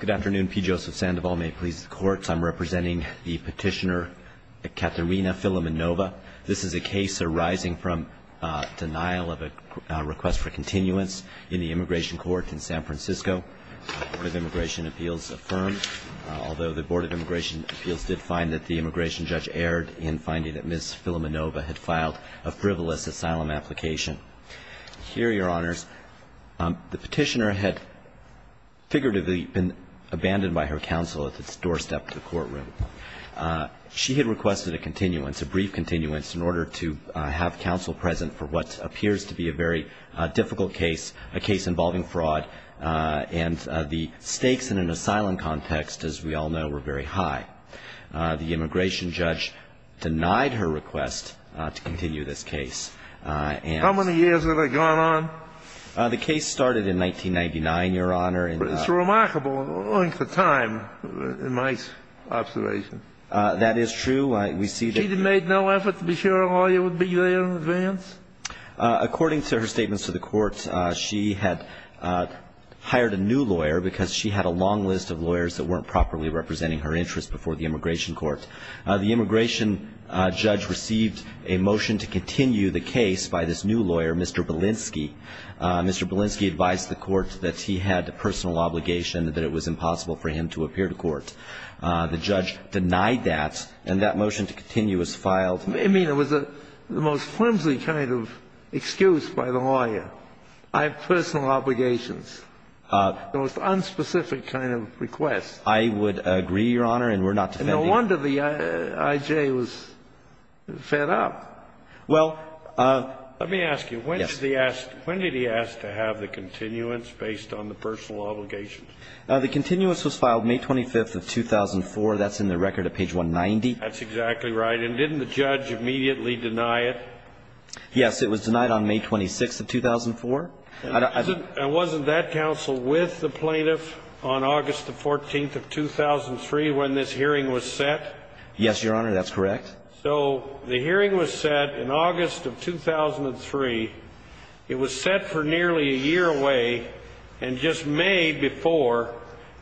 Good afternoon, P. Joseph Sandoval. May it please the courts, I'm representing the petitioner Katerina Filimonova. This is a case arising from denial of a request for continuance in the immigration court in San Francisco. The Board of Immigration Appeals affirmed, although the Board of Immigration Appeals did find that the immigration judge erred in finding that Ms. Filimonova had filed a frivolous asylum application. Here, Your Honors, the petitioner had figuratively been abandoned by her counsel at the doorstep to the courtroom. She had requested a continuance, a brief continuance, in order to have counsel present for what appears to be a very difficult case, a case involving fraud, and the stakes in an asylum context, as we all know, were very high. The immigration judge denied her request to continue this case. How many years had it gone on? The case started in 1999, Your Honor. It's remarkable, owing to time, in my observation. That is true. She made no effort to be sure a lawyer would be there in advance? According to her statements to the court, she had hired a new lawyer because she had a long list of lawyers that weren't properly representing her interests before the immigration court. The immigration judge received a motion to continue the case by this new lawyer, Mr. Belinsky. Mr. Belinsky advised the court that he had a personal obligation, that it was impossible for him to appear to court. The judge denied that, and that motion to continue was filed. I mean, it was the most flimsy kind of excuse by the lawyer. I have personal obligations. The most unspecific kind of request. I would agree, Your Honor, and we're not defending it. No wonder the I.J. was fed up. Well, let me ask you. Yes. When did he ask to have the continuance based on the personal obligations? The continuance was filed May 25th of 2004. That's in the record at page 190. That's exactly right. And didn't the judge immediately deny it? Yes. It was denied on May 26th of 2004. And wasn't that counsel with the plaintiff on August the 14th of 2003 when this hearing was set? Yes, Your Honor. That's correct. So the hearing was set in August of 2003. It was set for nearly a year away. And just May before,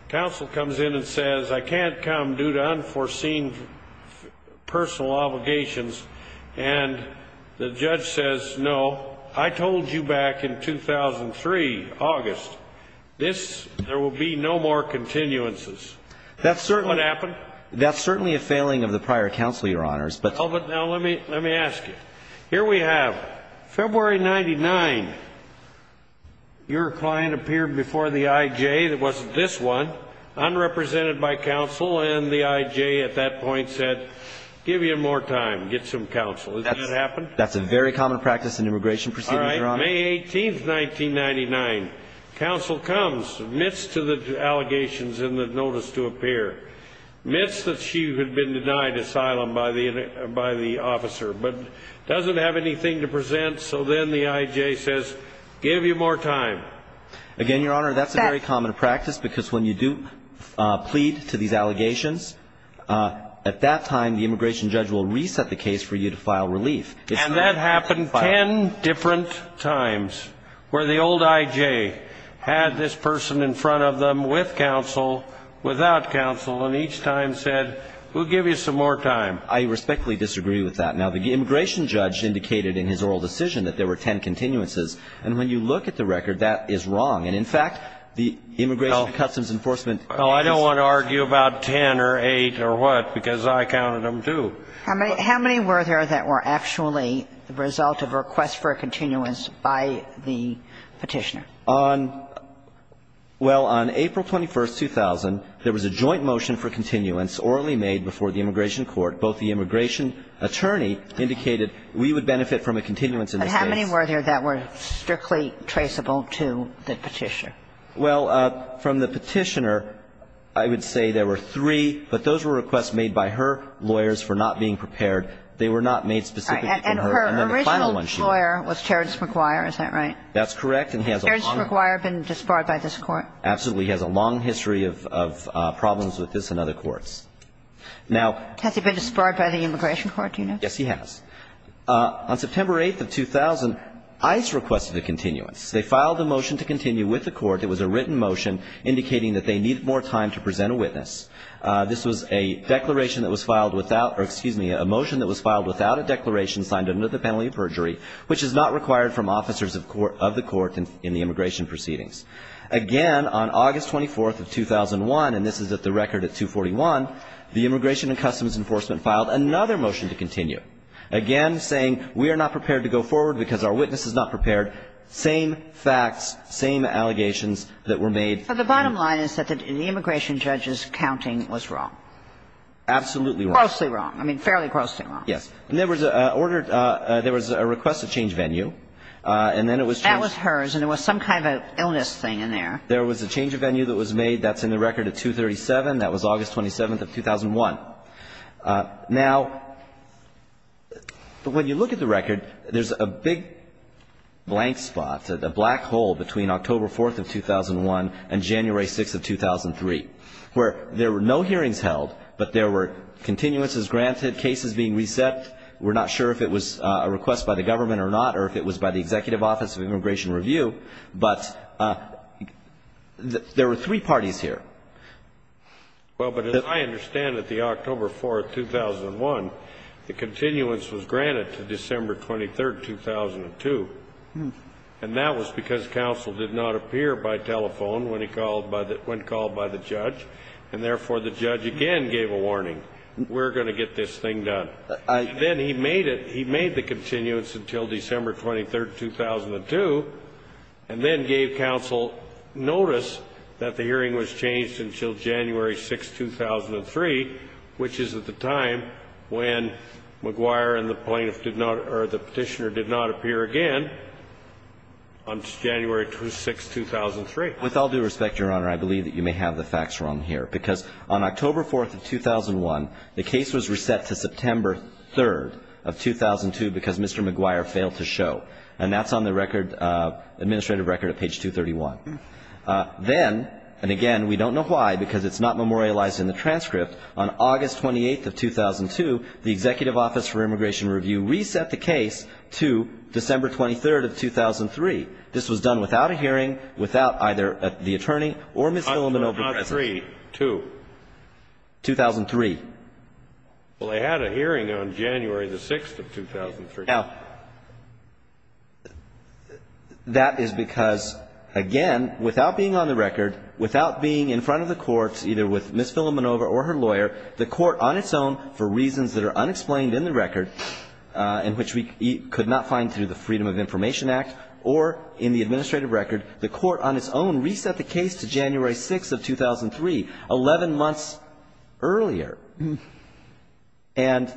counsel comes in and says, I can't come due to unforeseen personal obligations. And the judge says, no, I told you in 2003, August, this, there will be no more continuances. What happened? That's certainly a failing of the prior counsel, Your Honors. But now let me ask you. Here we have February 99, your client appeared before the I.J. that wasn't this one, unrepresented by counsel, and the I.J. at that point said, give me more time, get some counsel. Did that happen? That's a very common practice in immigration proceedings, Your Honor. May 18th, 1999, counsel comes, admits to the allegations in the notice to appear, admits that she had been denied asylum by the officer, but doesn't have anything to present. So then the I.J. says, give me more time. Again, Your Honor, that's a very common practice, because when you do plead to these allegations, at that time, the immigration judge will reset the case for you to file relief. And that happened 10 different times, where the old I.J. had this person in front of them with counsel, without counsel, and each time said, we'll give you some more time. I respectfully disagree with that. Now, the immigration judge indicated in his oral decision that there were 10 continuances. And when you look at the record, that is wrong. And in fact, the Immigration and Customs Enforcement... No, I don't want to argue about 10 or 8 or what, because I counted them too. How many were there that were actually the result of a request for a continuance by the Petitioner? On, well, on April 21st, 2000, there was a joint motion for continuance orally made before the Immigration Court. Both the immigration attorney indicated we would benefit from a continuance in this case. And how many were there that were strictly traceable to the Petitioner? Well, from the Petitioner, I would say there were three, but those were requests made by her lawyers for not being prepared. They were not made specifically for her. And her original lawyer was Terrence McGuire. Is that right? That's correct. Has Terrence McGuire been disbarred by this Court? Absolutely. He has a long history of problems with this and other courts. Now... Has he been disbarred by the Immigration Court, do you know? Yes, he has. On September 8th of 2000, ICE requested a continuance. They filed a motion to continue with the Court. It was a written motion indicating that they needed more time to present a witness. This was a declaration that was filed without or, excuse me, a motion that was filed without a declaration signed under the penalty of perjury, which is not required from officers of the Court in the immigration proceedings. Again, on August 24th of 2001, and this is at the record at 241, the Immigration and Customs Enforcement filed another motion to continue, again saying we are not prepared to go forward because our witness is not prepared. Same facts, same allegations that were made. The bottom line is that the immigration judge's counting was wrong. Absolutely wrong. Grossly wrong. I mean, fairly grossly wrong. Yes. And there was a request to change venue, and then it was changed. That was hers, and there was some kind of illness thing in there. There was a change of venue that was made. That's in the record at 237. That was August 27th of 2001. Now, when you look at the record, there's a big blank spot, a black hole between October 4th of 2001 and January 6th of 2003, where there were no hearings held, but there were continuances granted, cases being reset. We're not sure if it was a request by the government or not or if it was by the Executive Office of Immigration Review, but there were three parties here. Well, but as I understand it, the October 4th, 2001, the continuance was granted to December 23rd, 2002, and that was because counsel did not appear by telephone when called by the judge, and therefore the judge again gave a warning. We're going to get this thing done. Then he made it. He made the continuance until December 23rd, 2002, and then gave counsel notice that the hearing was changed until January 6th, 2003, which is at the time when McGuire and the plaintiff did not or the Petitioner did not appear again on January 6th, 2003. With all due respect, Your Honor, I believe that you may have the facts wrong here, because on October 4th of 2001, the case was reset to September 3rd of 2002 because Mr. McGuire failed to show, and that's on the record, administrative record at page 231. Then, and again, we don't know why because it's not memorialized in the transcript, on August 28th of 2002, the Executive Office for Immigration Review reset the case to December 23rd of 2003. This was done without a hearing, without either the attorney or Ms. Hilleman over the President. How about 3-2? 2003. Well, they had a hearing on January 6th of 2003. Now, that is because, again, without being on the record, without being in front of the court, either with Ms. Hilleman over or her lawyer, the court on its own, for reasons that are unexplained in the record, in which we could not find through the Freedom of Information Act or in the administrative record, the court on its own reset the case to January 6th of 2003, 11 months earlier, and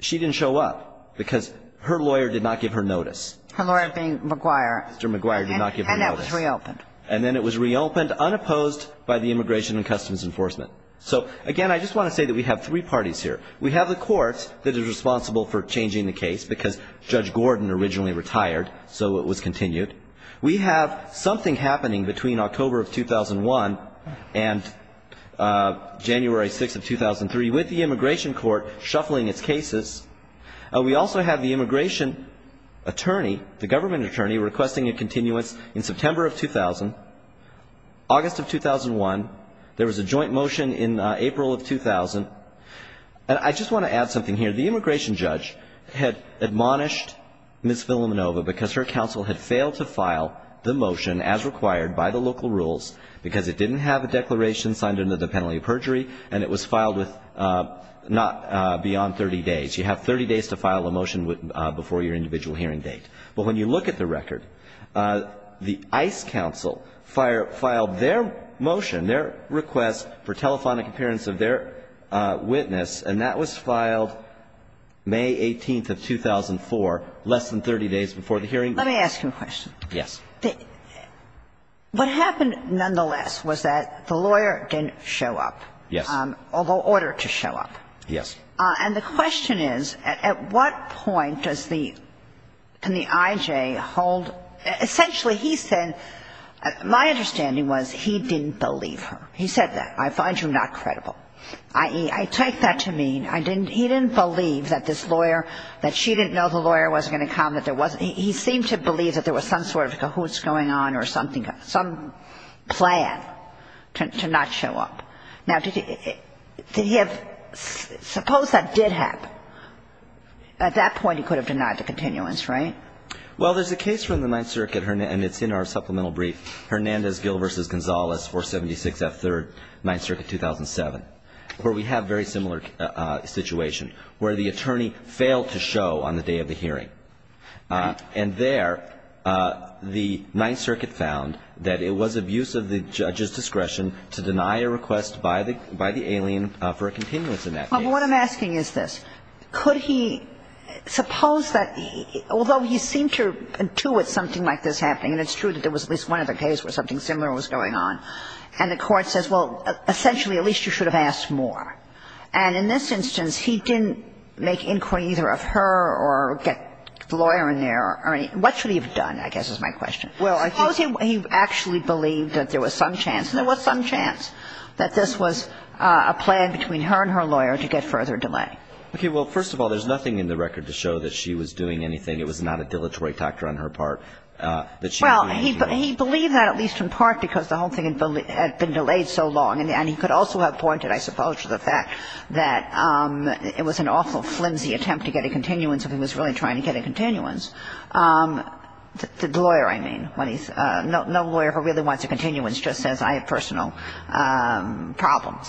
she didn't show up. Because her lawyer did not give her notice. Her lawyer being McGuire. Mr. McGuire did not give her notice. And that was reopened. And then it was reopened unopposed by the Immigration and Customs Enforcement. So, again, I just want to say that we have three parties here. We have the court that is responsible for changing the case because Judge Gordon originally retired, so it was continued. We have something happening between October of 2001 and January 6th of 2003 with the immigration court shuffling its cases. We also have the immigration attorney, the government attorney, requesting a continuance in September of 2000, August of 2001. There was a joint motion in April of 2000. And I just want to add something here. The immigration judge had admonished Ms. Villanueva because her counsel had failed to file the motion as required by the local rules because it didn't have a declaration signed into the penalty of perjury, and it was filed with not beyond 30 days. You have 30 days to file a motion before your individual hearing date. But when you look at the record, the ICE counsel filed their motion, their request for telephonic appearance of their witness, and that was filed May 18th of 2004, less than 30 days before the hearing. Let me ask you a question. Yes. What happened, nonetheless, was that the lawyer didn't show up. Yes. Although ordered to show up. Yes. And the question is, at what point does the – can the I.J. hold – essentially, he said – my understanding was he didn't believe her. He said that. I find you not credible, i.e., I take that to mean I didn't – he didn't believe that this lawyer – that she didn't know the lawyer was going to come, that there was – he seemed to believe that there was some sort of cahoots going on or something – some plan to not show up. Now, did he – did he have – suppose that did happen. At that point, he could have denied the continuance, right? Well, there's a case from the Ninth Circuit, and it's in our supplemental brief, Hernandez-Gill v. Gonzales, 476 F. 3rd, Ninth Circuit, 2007, where we have very similar situation, where the attorney failed to show on the day of the hearing. And there, the Ninth Circuit found that it was abuse of the judge's discretion to deny a request by the alien for a continuance in that case. Well, what I'm asking is this. Could he – suppose that – although he seemed to intuit something like this happening, and it's true that there was at least one other case where something similar was going on, and the court says, well, essentially, at least you should have asked more. And in this instance, he didn't make inquiry either of her or get the lawyer in there or any – what should he have done, I guess, is my question. Suppose he actually believed that there was some chance, and there was some chance, that this was a plan between her and her lawyer to get further delay. Okay. Well, first of all, there's nothing in the record to show that she was doing anything. It was not a dilatory factor on her part that she was doing anything. He believed that, at least in part, because the whole thing had been delayed so long. And he could also have pointed, I suppose, to the fact that it was an awful flimsy attempt to get a continuance if he was really trying to get a continuance. The lawyer, I mean, when he's – no lawyer ever really wants a continuance, just says, I have personal problems.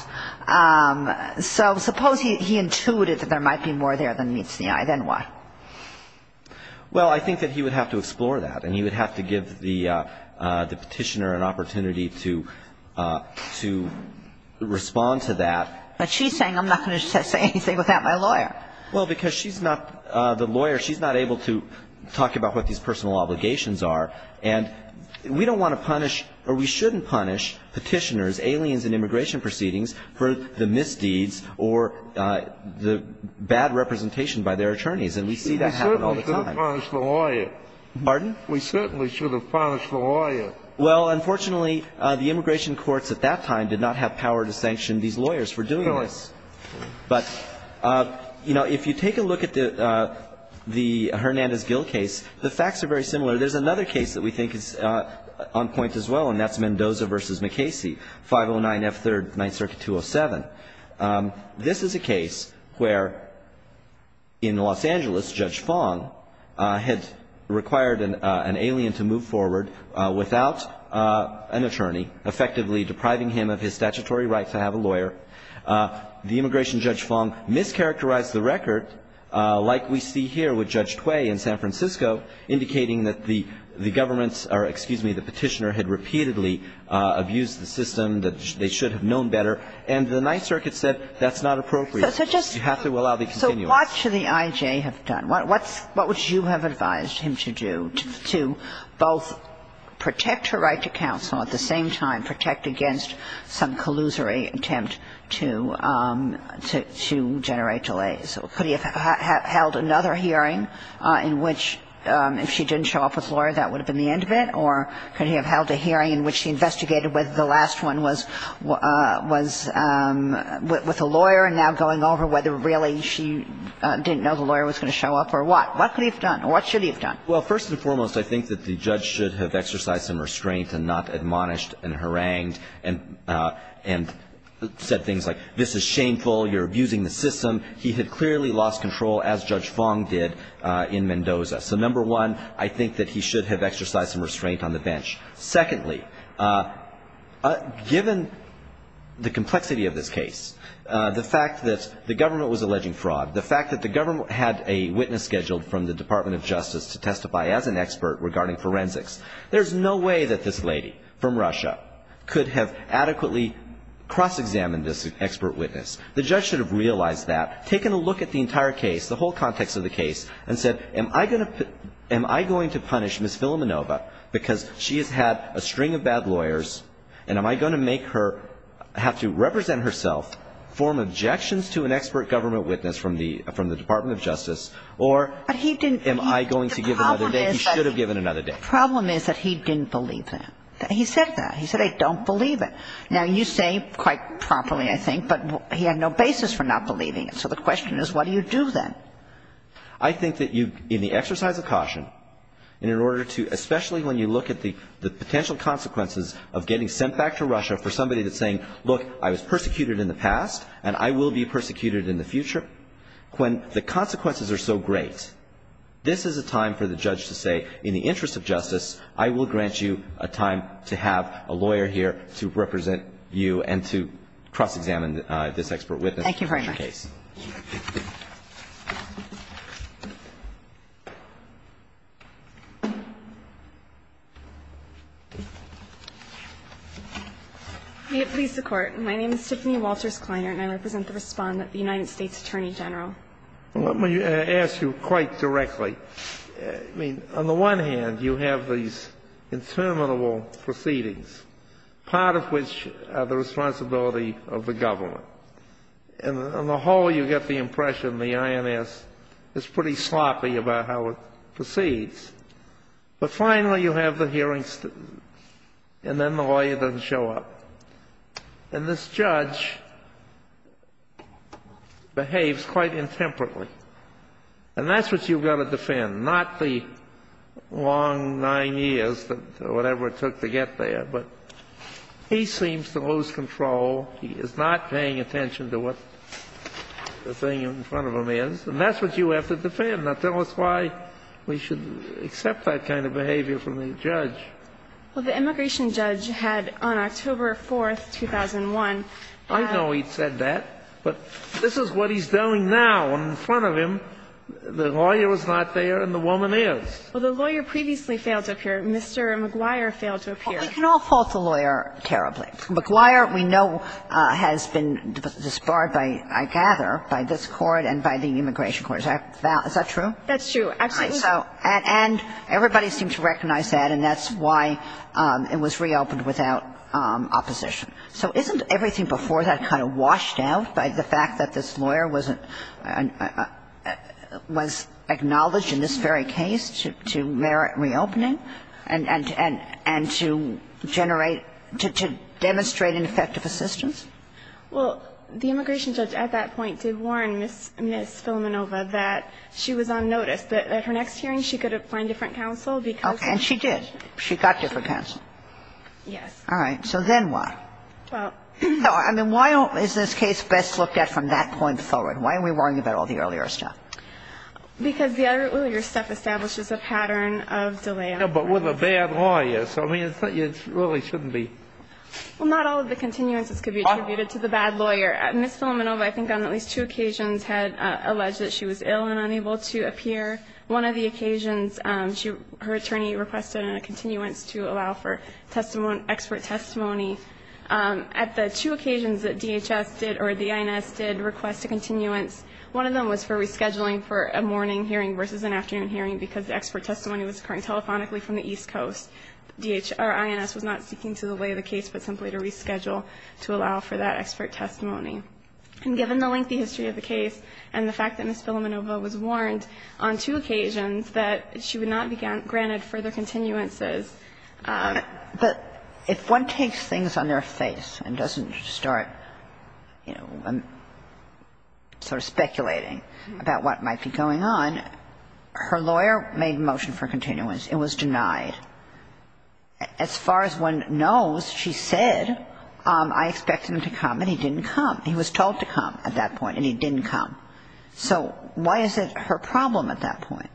So suppose he intuited that there might be more there than meets the eye. Then what? Well, I think that he would have to explore that, and he would have to give the petitioner an opportunity to respond to that. But she's saying I'm not going to say anything without my lawyer. Well, because she's not the lawyer. She's not able to talk about what these personal obligations are. And we don't want to punish, or we shouldn't punish, petitioners, aliens in immigration proceedings for the misdeeds or the bad representation by their attorneys. And we see that happen all the time. We certainly should have punished the lawyer. Pardon? We certainly should have punished the lawyer. Well, unfortunately, the immigration courts at that time did not have power to sanction these lawyers for doing this. Sorry. But, you know, if you take a look at the Hernandez-Gill case, the facts are very similar. There's another case that we think is on point as well, and that's Mendoza v. McCasey, 509F3rd, Ninth Circuit 207. This is a case where, in Los Angeles, Judge Fong had required an alien to move forward without an attorney, effectively depriving him of his statutory right to have a lawyer. The immigration judge, Fong, mischaracterized the record, like we see here with Judge Cui in San Francisco, indicating that the government's or, excuse me, the petitioner had a right to have a lawyer. And the court said that's not appropriate. You have to allow the continuance. So what should the I.J. have done? What would you have advised him to do to both protect her right to counsel, at the same time protect against some collusory attempt to generate delays? Could he have held another hearing in which, if she didn't show up with a lawyer, that would have been the end of it? Or could he have held a hearing in which he investigated whether the last one was with a lawyer and now going over whether really she didn't know the lawyer was going to show up or what? What could he have done? Or what should he have done? Well, first and foremost, I think that the judge should have exercised some restraint and not admonished and harangued and said things like, this is shameful, you're abusing the system. He had clearly lost control, as Judge Fong did in Mendoza. So, number one, I think that he should have exercised some restraint on the bench. Secondly, given the complexity of this case, the fact that the government was alleging fraud, the fact that the government had a witness scheduled from the Department of Justice to testify as an expert regarding forensics, there's no way that this lady from Russia could have adequately cross-examined this expert witness. The judge should have realized that, taken a look at the entire case, the whole And so I think that he should have said, am I going to punish Ms. Villaminova because she has had a string of bad lawyers, and am I going to make her have to represent herself, form objections to an expert government witness from the Department of Justice, or am I going to give another day? He should have given another day. The problem is that he didn't believe that. He said that. He said, I don't believe it. Now, you say quite promptly, I think, but he had no basis for not believing it. So the question is, what do you do then? I think that you, in the exercise of caution, in order to, especially when you look at the potential consequences of getting sent back to Russia for somebody that's saying, look, I was persecuted in the past, and I will be persecuted in the future, when the consequences are so great, this is a time for the judge to say, in the interest of justice, I will grant you a time to have a lawyer here to represent you and to cross-examine this expert witness. Thank you very much. And that is my case. May it please the Court. My name is Tiffany Walters Kleiner, and I represent the Respondent of the United States Attorney General. Let me ask you quite directly. I mean, on the one hand, you have these interminable proceedings, part of which are the responsibility of the government. And on the whole, you get the impression the INS is pretty sloppy about how it proceeds. But finally, you have the hearings, and then the lawyer doesn't show up. And this judge behaves quite intemperately. And that's what you've got to defend, not the long nine years or whatever it took to get there. But he seems to lose control. He is not paying attention to what the thing in front of him is. And that's what you have to defend. Now, tell us why we should accept that kind of behavior from the judge. Well, the immigration judge had, on October 4th, 2001, had a ---- I know he said that, but this is what he's doing now. And in front of him, the lawyer is not there and the woman is. Well, the lawyer previously failed to appear. Mr. McGuire failed to appear. We can all fault the lawyer terribly. But McGuire, we know, has been disbarred by, I gather, by this Court and by the Immigration Court. Is that true? That's true. Absolutely. And everybody seems to recognize that, and that's why it was reopened without opposition. So isn't everything before that kind of washed out by the fact that this lawyer wasn't ---- was acknowledged in this very case to merit reopening and to generate an effective assistance? Well, the immigration judge at that point did warn Ms. Filamenova that she was on notice, that at her next hearing she could find different counsel because ---- And she did. She got different counsel. Yes. All right. So then what? Well ---- No, I mean, why is this case best looked at from that point forward? Why are we worrying about all the earlier stuff? Because the earlier stuff establishes a pattern of delay. But with a bad lawyer. So, I mean, it really shouldn't be ---- Well, not all of the continuances could be attributed to the bad lawyer. Ms. Filamenova, I think on at least two occasions, had alleged that she was ill and unable to appear. One of the occasions, her attorney requested a continuance to allow for expert testimony. At the two occasions that DHS did or the INS did request a continuance, one of them was for rescheduling for a morning hearing versus an afternoon hearing because the expert testimony was occurring telephonically from the East Coast. DHS or INS was not seeking to delay the case, but simply to reschedule to allow for that expert testimony. And given the lengthy history of the case and the fact that Ms. Filamenova was warned on two occasions that she would not be granted further continuances ---- But if one takes things on their face and doesn't start, you know, sort of speculating about what might be going on, her lawyer made motion for continuance. It was denied. As far as one knows, she said, I expect him to come, and he didn't come. He was told to come at that point, and he didn't come. So why is it her problem at that point?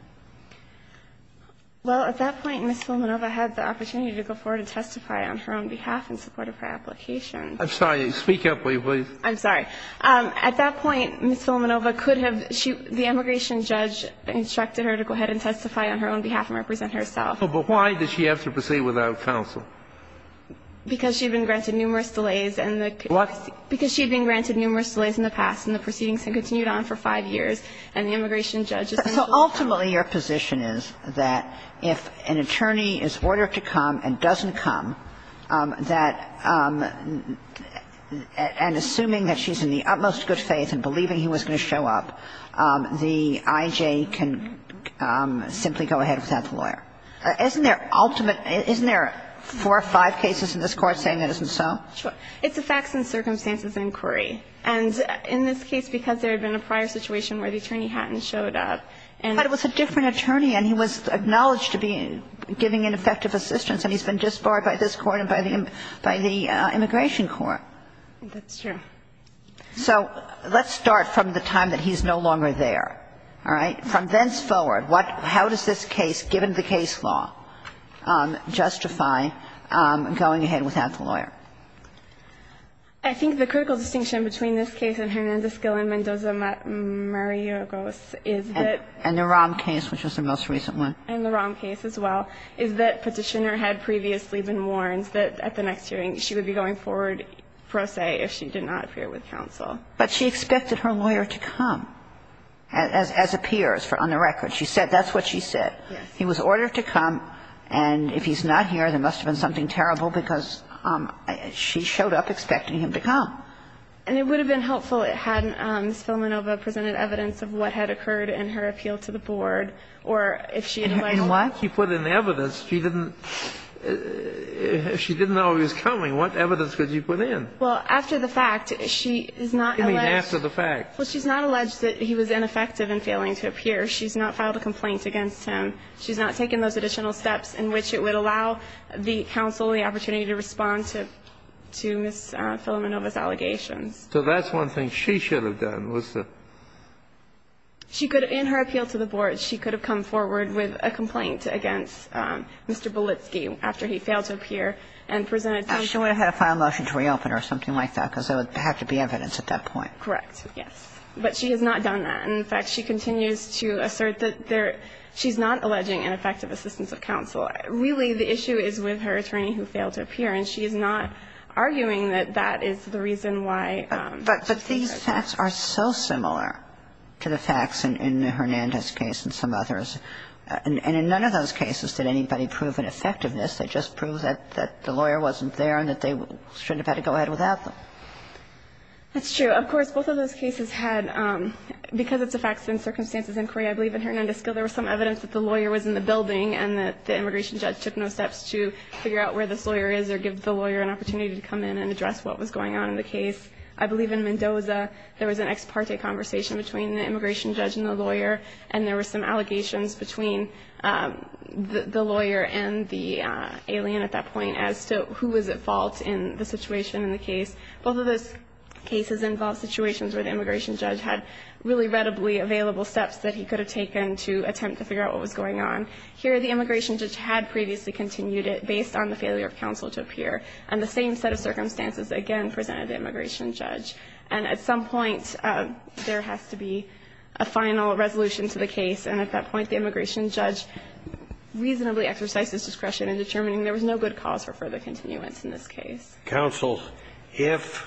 Well, at that point, Ms. Filamenova had the opportunity to go forward and testify on her own behalf in support of her application. I'm sorry. Speak up, please. I'm sorry. At that point, Ms. Filamenova could have ---- she ---- the immigration judge instructed her to go ahead and testify on her own behalf and represent herself. But why did she have to proceed without counsel? Because she had been granted numerous delays and the ---- What? Because she had been granted numerous delays in the past, and the proceedings had continued on for five years, and the immigration judge ---- So ultimately, your position is that if an attorney is ordered to come and doesn't come, that ---- and assuming that she's in the utmost good faith and believing he was going to show up, the I.J. can simply go ahead without the lawyer. Isn't there ultimate ---- isn't there four or five cases in this Court saying it isn't so? Sure. It's a facts and circumstances inquiry. And in this case, because there had been a prior situation where the attorney hadn't showed up and ---- But it was a different attorney, and he was acknowledged to be giving ineffective assistance, and he's been disbarred by this Court and by the immigration court. That's true. So let's start from the time that he's no longer there. All right? From thenceforward, what ---- how does this case, given the case law, justify going ahead without the lawyer? I think the critical distinction between this case and Hernandez-Gill and Mendoza-Murray is that ---- And the Rahm case, which was the most recent one. And the Rahm case as well is that Petitioner had previously been warned that at the next hearing she would be going forward pro se if she did not appear with counsel. But she expected her lawyer to come, as appears on the record. She said that's what she said. Yes. He was ordered to come, and if he's not here, there must have been something terrible because she showed up expecting him to come. And it would have been helpful had Ms. Filamenova presented evidence of what had happened. In what? She put in evidence. She didn't know he was coming. What evidence could you put in? Well, after the fact, she is not alleged ---- You mean after the fact. Well, she's not alleged that he was ineffective in failing to appear. She's not filed a complaint against him. She's not taken those additional steps in which it would allow the counsel the opportunity to respond to Ms. Filamenova's allegations. So that's one thing she should have done, was to ---- She could have, in her appeal to the board, she could have come forward with a complaint against Mr. Bulitsky after he failed to appear and presented some ---- She would have had a final motion to reopen or something like that, because there would have to be evidence at that point. Correct. Yes. But she has not done that. In fact, she continues to assert that there ---- she's not alleging ineffective assistance of counsel. Really, the issue is with her attorney who failed to appear, and she is not arguing that that is the reason why ---- But these facts are so similar to the facts in Hernandez's case and some others. And in none of those cases did anybody prove an effectiveness. They just proved that the lawyer wasn't there and that they shouldn't have had to go ahead without them. That's true. Of course, both of those cases had, because it's a facts and circumstances inquiry, I believe in Hernandez's case there was some evidence that the lawyer was in the building and that the immigration judge took no steps to figure out where this was going on. Here in Mendoza, there was an ex parte conversation between the immigration judge and the lawyer, and there were some allegations between the lawyer and the alien at that point as to who was at fault in the situation in the case. Both of those cases involved situations where the immigration judge had really readily available steps that he could have taken to attempt to figure out what was going on. Here, the immigration judge had previously continued it based on the failure of counsel to appear. And the same set of circumstances, again, presented the immigration judge. And at some point, there has to be a final resolution to the case. And at that point, the immigration judge reasonably exercised his discretion in determining there was no good cause for further continuance in this case. Counsel, if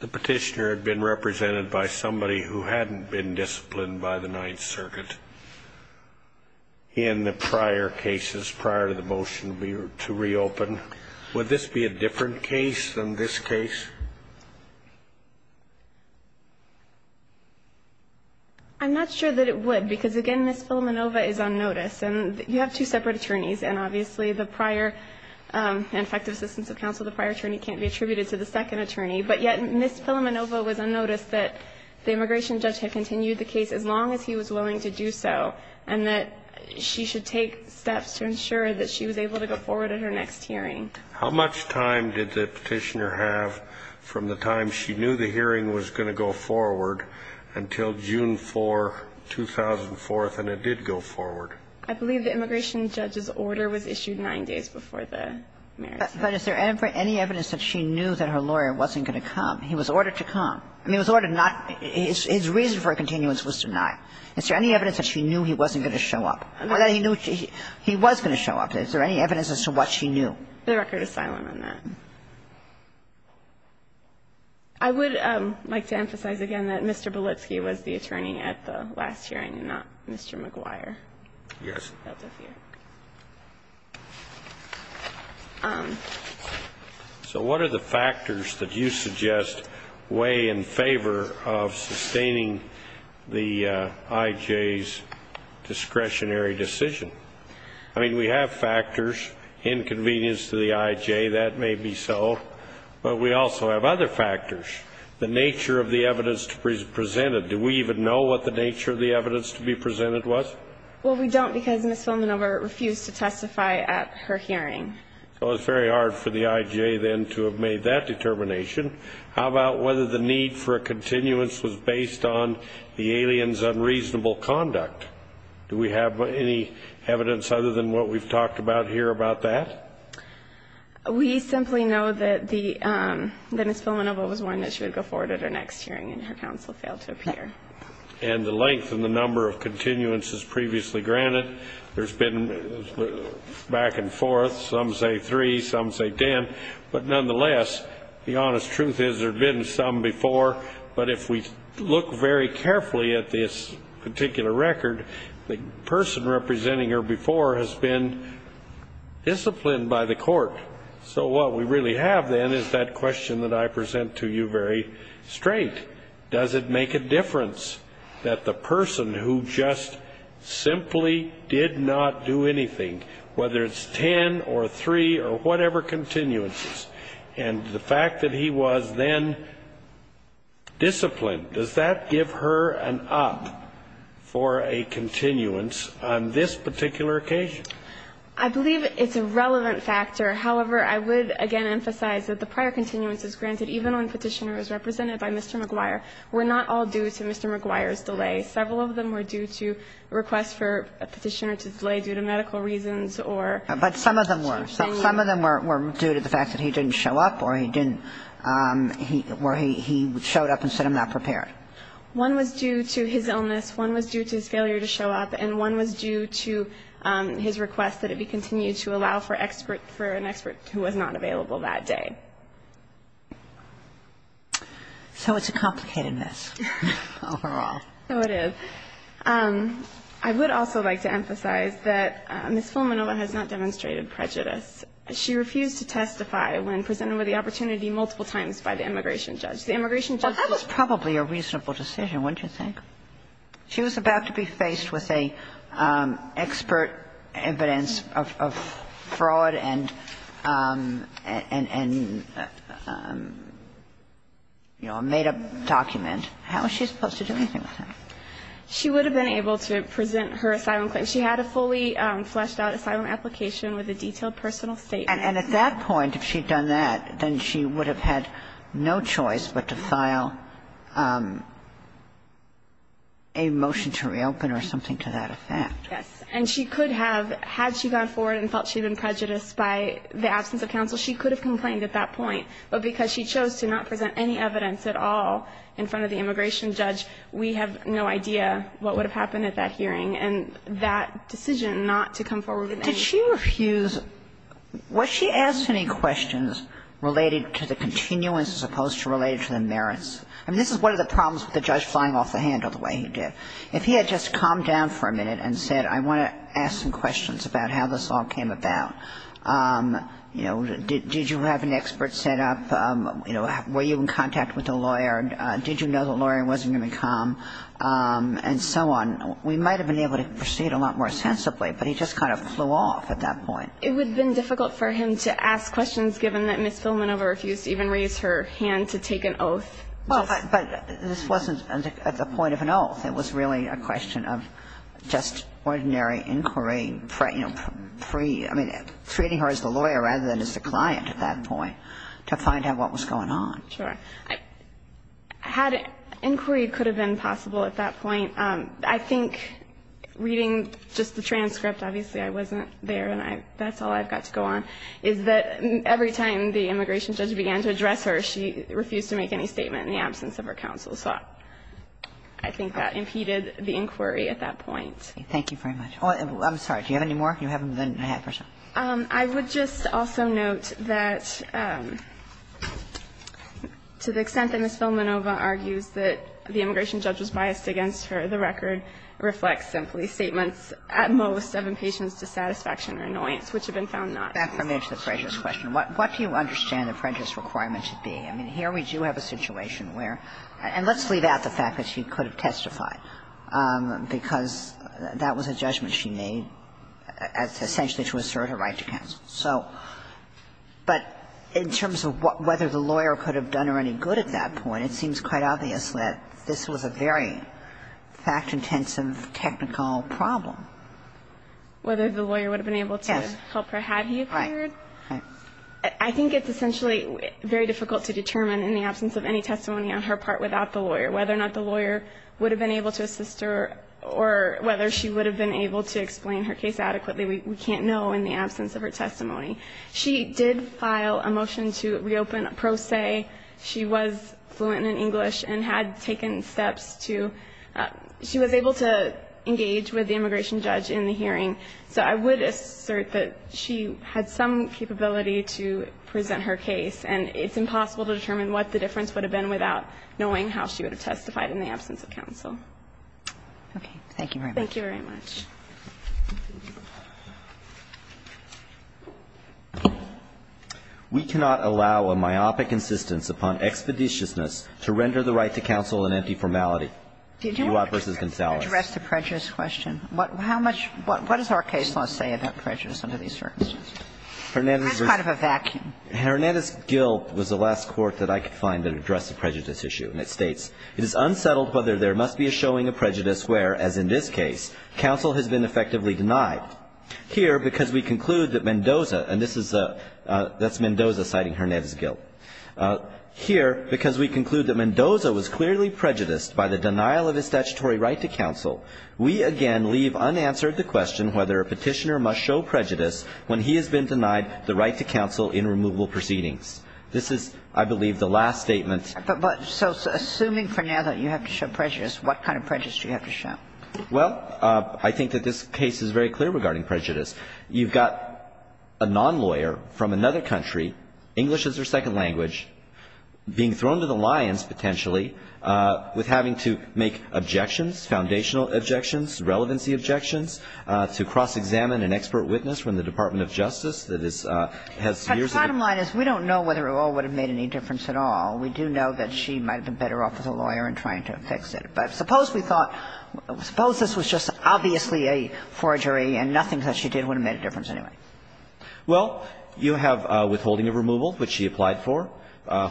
the Petitioner had been represented by somebody who hadn't been disciplined by the Ninth Circuit in the prior cases, prior to the motion to reopen, would this be a different case than this case? I'm not sure that it would, because, again, Ms. Filamenova is on notice. And you have two separate attorneys, and obviously the prior effective assistance of counsel to the prior attorney can't be attributed to the second attorney. But yet, Ms. Filamenova was on notice that the immigration judge had continued the case as long as he was willing to do so, and that she should take steps to ensure that she was able to go forward in her next hearing. How much time did the Petitioner have from the time she knew the hearing was going to go forward until June 4, 2004, and it did go forward? I believe the immigration judge's order was issued nine days before the marriage. But is there any evidence that she knew that her lawyer wasn't going to come? He was ordered to come. I mean, it was ordered not to. His reason for a continuance was denied. Is there any evidence that she knew he wasn't going to show up, or that he knew he was going to show up? Is there any evidence as to what she knew? The record is silent on that. I would like to emphasize again that Mr. Belitsky was the attorney at the last hearing and not Mr. McGuire. Yes. So what are the factors that you suggest weigh in favor of sustaining the IJ's discretionary decision? I mean, we have factors, inconvenience to the IJ, that may be so. But we also have other factors, the nature of the evidence presented. Do we even know what the nature of the evidence to be presented was? Well, we don't because Ms. Villanueva refused to testify at her hearing. So it's very hard for the IJ then to have made that determination. How about whether the need for a continuance was based on the alien's unreasonable conduct? Do we have any evidence other than what we've talked about here about that? We simply know that Ms. Villanueva was warned that she would go forward at her next hearing, and her counsel failed to appear. And the length and the number of continuances previously granted, there's been back and forth. Some say three, some say ten. But nonetheless, the honest truth is there have been some before. But if we look very carefully at this particular record, the person representing her before has been disciplined by the court. So what we really have then is that question that I present to you very straight. Does it make a difference that the person who just simply did not do anything, whether it's ten or three or whatever continuances, and the fact that he was then disciplined, does that give her an up for a continuance on this particular occasion? I believe it's a relevant factor. However, I would, again, emphasize that the prior continuance is granted even when the petitioner is represented by Mr. McGuire. We're not all due to Mr. McGuire's delay. Several of them were due to requests for a petitioner to delay due to medical reasons or to continue. But some of them were. Some of them were due to the fact that he didn't show up or he didn't or he showed up and said I'm not prepared. One was due to his illness. One was due to his failure to show up. And one was due to his request that it be continued to allow for an expert who was not available that day. So it's a complicated mess overall. So it is. I would also like to emphasize that Ms. Fulminova has not demonstrated prejudice. She refused to testify when presented with the opportunity multiple times by the immigration judge. The immigration judge was probably a reasonable decision, wouldn't you think? She was about to be faced with an expert evidence of fraud and negligence. And if she had, you know, made a document, how was she supposed to do anything with that? She would have been able to present her asylum claim. She had a fully fleshed out asylum application with a detailed personal statement. And at that point, if she had done that, then she would have had no choice but to file a motion to reopen or something to that effect. Yes. And she could have, had she gone forward and felt she had been prejudiced by the absence of counsel, she could have complained at that point. But because she chose to not present any evidence at all in front of the immigration judge, we have no idea what would have happened at that hearing. And that decision not to come forward with any ---- Did she refuse? Was she asked any questions related to the continuance as opposed to related to the merits? I mean, this is one of the problems with the judge flying off the handle the way he did. If he had just calmed down for a minute and said, I want to ask some questions about how this all came about, you know, did you have an expert set up? You know, were you in contact with a lawyer? Did you know the lawyer wasn't going to come? And so on. We might have been able to proceed a lot more sensibly, but he just kind of flew off at that point. It would have been difficult for him to ask questions given that Ms. Philman never refused to even raise her hand to take an oath. Well, but this wasn't at the point of an oath. It was really a question of just ordinary inquiry, you know, free, I mean, treating her as the lawyer rather than as the client at that point to find out what was going on. Sure. Had inquiry could have been possible at that point. I think reading just the transcript, obviously I wasn't there and that's all I've got to go on, is that every time the immigration judge began to address her, she refused to make any statement in the absence of her counsel. So I think that impeded the inquiry at that point. Thank you very much. Oh, I'm sorry. Do you have any more? You have more than a half percent. I would just also note that to the extent that Ms. Philmanova argues that the immigration judge was biased against her, the record reflects simply statements at most of impatience, dissatisfaction or annoyance, which have been found not. Back for me to the prejudice question. What do you understand the prejudice requirement should be? I mean, here we do have a situation where, and let's leave out the fact that she could have testified, because that was a judgment she made essentially to assert her right to counsel. So, but in terms of whether the lawyer could have done her any good at that point, it seems quite obvious that this was a very fact-intensive, technical problem. Whether the lawyer would have been able to help her had he appeared? Right. I think it's essentially very difficult to determine in the absence of any testimony on her part without the lawyer whether or not the lawyer would have been able to assist her or whether she would have been able to explain her case adequately. We can't know in the absence of her testimony. She did file a motion to reopen a pro se. She was fluent in English and had taken steps to – she was able to engage with the immigration judge in the hearing. So I would assert that she had some capability to present her case, and it's impossible to determine what the difference would have been without knowing how she would have testified in the absence of counsel. Okay. Thank you very much. Thank you very much. We cannot allow a myopic insistence upon expeditiousness to render the right to counsel an empty formality. Did you want to address the prejudice question? How much – what does our case law say about prejudice under these circumstances? That's kind of a vacuum. Hernandez's guilt was the last court that I could find that addressed the prejudice issue, and it states, It is unsettled whether there must be a showing of prejudice where, as in this case, counsel has been effectively denied. Here, because we conclude that Mendoza – and this is a – that's Mendoza citing Hernandez's guilt. Here, because we conclude that Mendoza was clearly prejudiced by the denial of his I believe unanswered the question whether a petitioner must show prejudice when he has been denied the right to counsel in removable proceedings. This is, I believe, the last statement. But so assuming for now that you have to show prejudice, what kind of prejudice do you have to show? Well, I think that this case is very clear regarding prejudice. You've got a nonlawyer from another country, English as their second language, being thrown to the lions, potentially, with having to make objections, foundational objections, relevancy objections, to cross-examine an expert witness from the Department of Justice that is – has years of experience. But the bottom line is we don't know whether it all would have made any difference at all. We do know that she might have been better off with a lawyer in trying to fix it. But suppose we thought – suppose this was just obviously a forgery and nothing that she did would have made a difference anyway. Well, you have withholding of removal, which she applied for,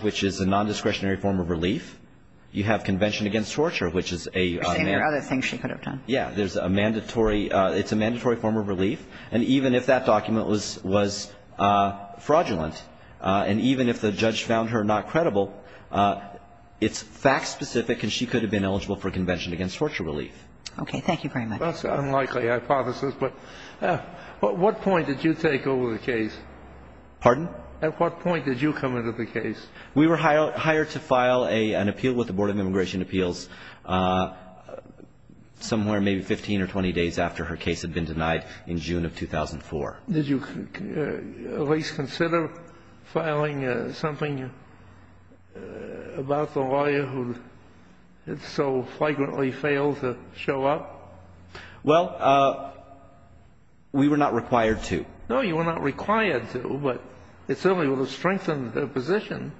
which is a nondiscretionary form of relief. You have convention against torture, which is a – You're saying there are other things she could have done. Yeah. There's a mandatory – it's a mandatory form of relief. And even if that document was fraudulent and even if the judge found her not credible, it's fact-specific and she could have been eligible for convention against torture relief. Okay. Thank you very much. That's an unlikely hypothesis. But what point did you take over the case? Pardon? At what point did you come into the case? We were hired to file an appeal with the Board of Immigration Appeals somewhere maybe 15 or 20 days after her case had been denied in June of 2004. Did you at least consider filing something about the lawyer who had so flagrantly failed to show up? Well, we were not required to. No, you were not required to, but it certainly would have strengthened her position.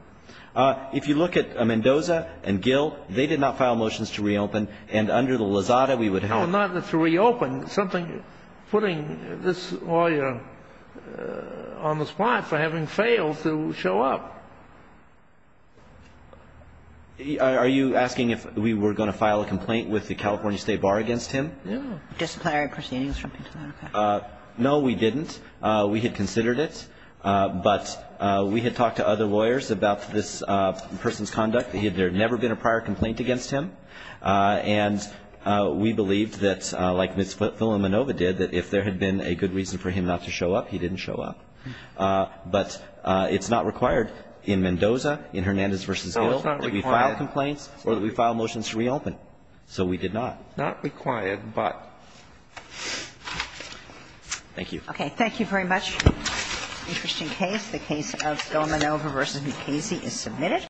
If you look at Mendoza and Gill, they did not file motions to reopen. And under the lazada, we would have – No, not to reopen. It's something putting this lawyer on the spot for having failed to show up. Are you asking if we were going to file a complaint with the California State Bar against Yeah. Disciplinary proceedings or something to that effect. No, we didn't. We had considered it. But we had talked to other lawyers about this person's conduct. There had never been a prior complaint against him. And we believed that, like Ms. Villanueva did, that if there had been a good reason for him not to show up, he didn't show up. But it's not required in Mendoza, in Hernandez v. Gill, that we file complaints or that we file motions to reopen. So we did not. Not required, but. Thank you. Okay. Thank you very much. Interesting case. The case of Villanueva v. Mukasey is submitted.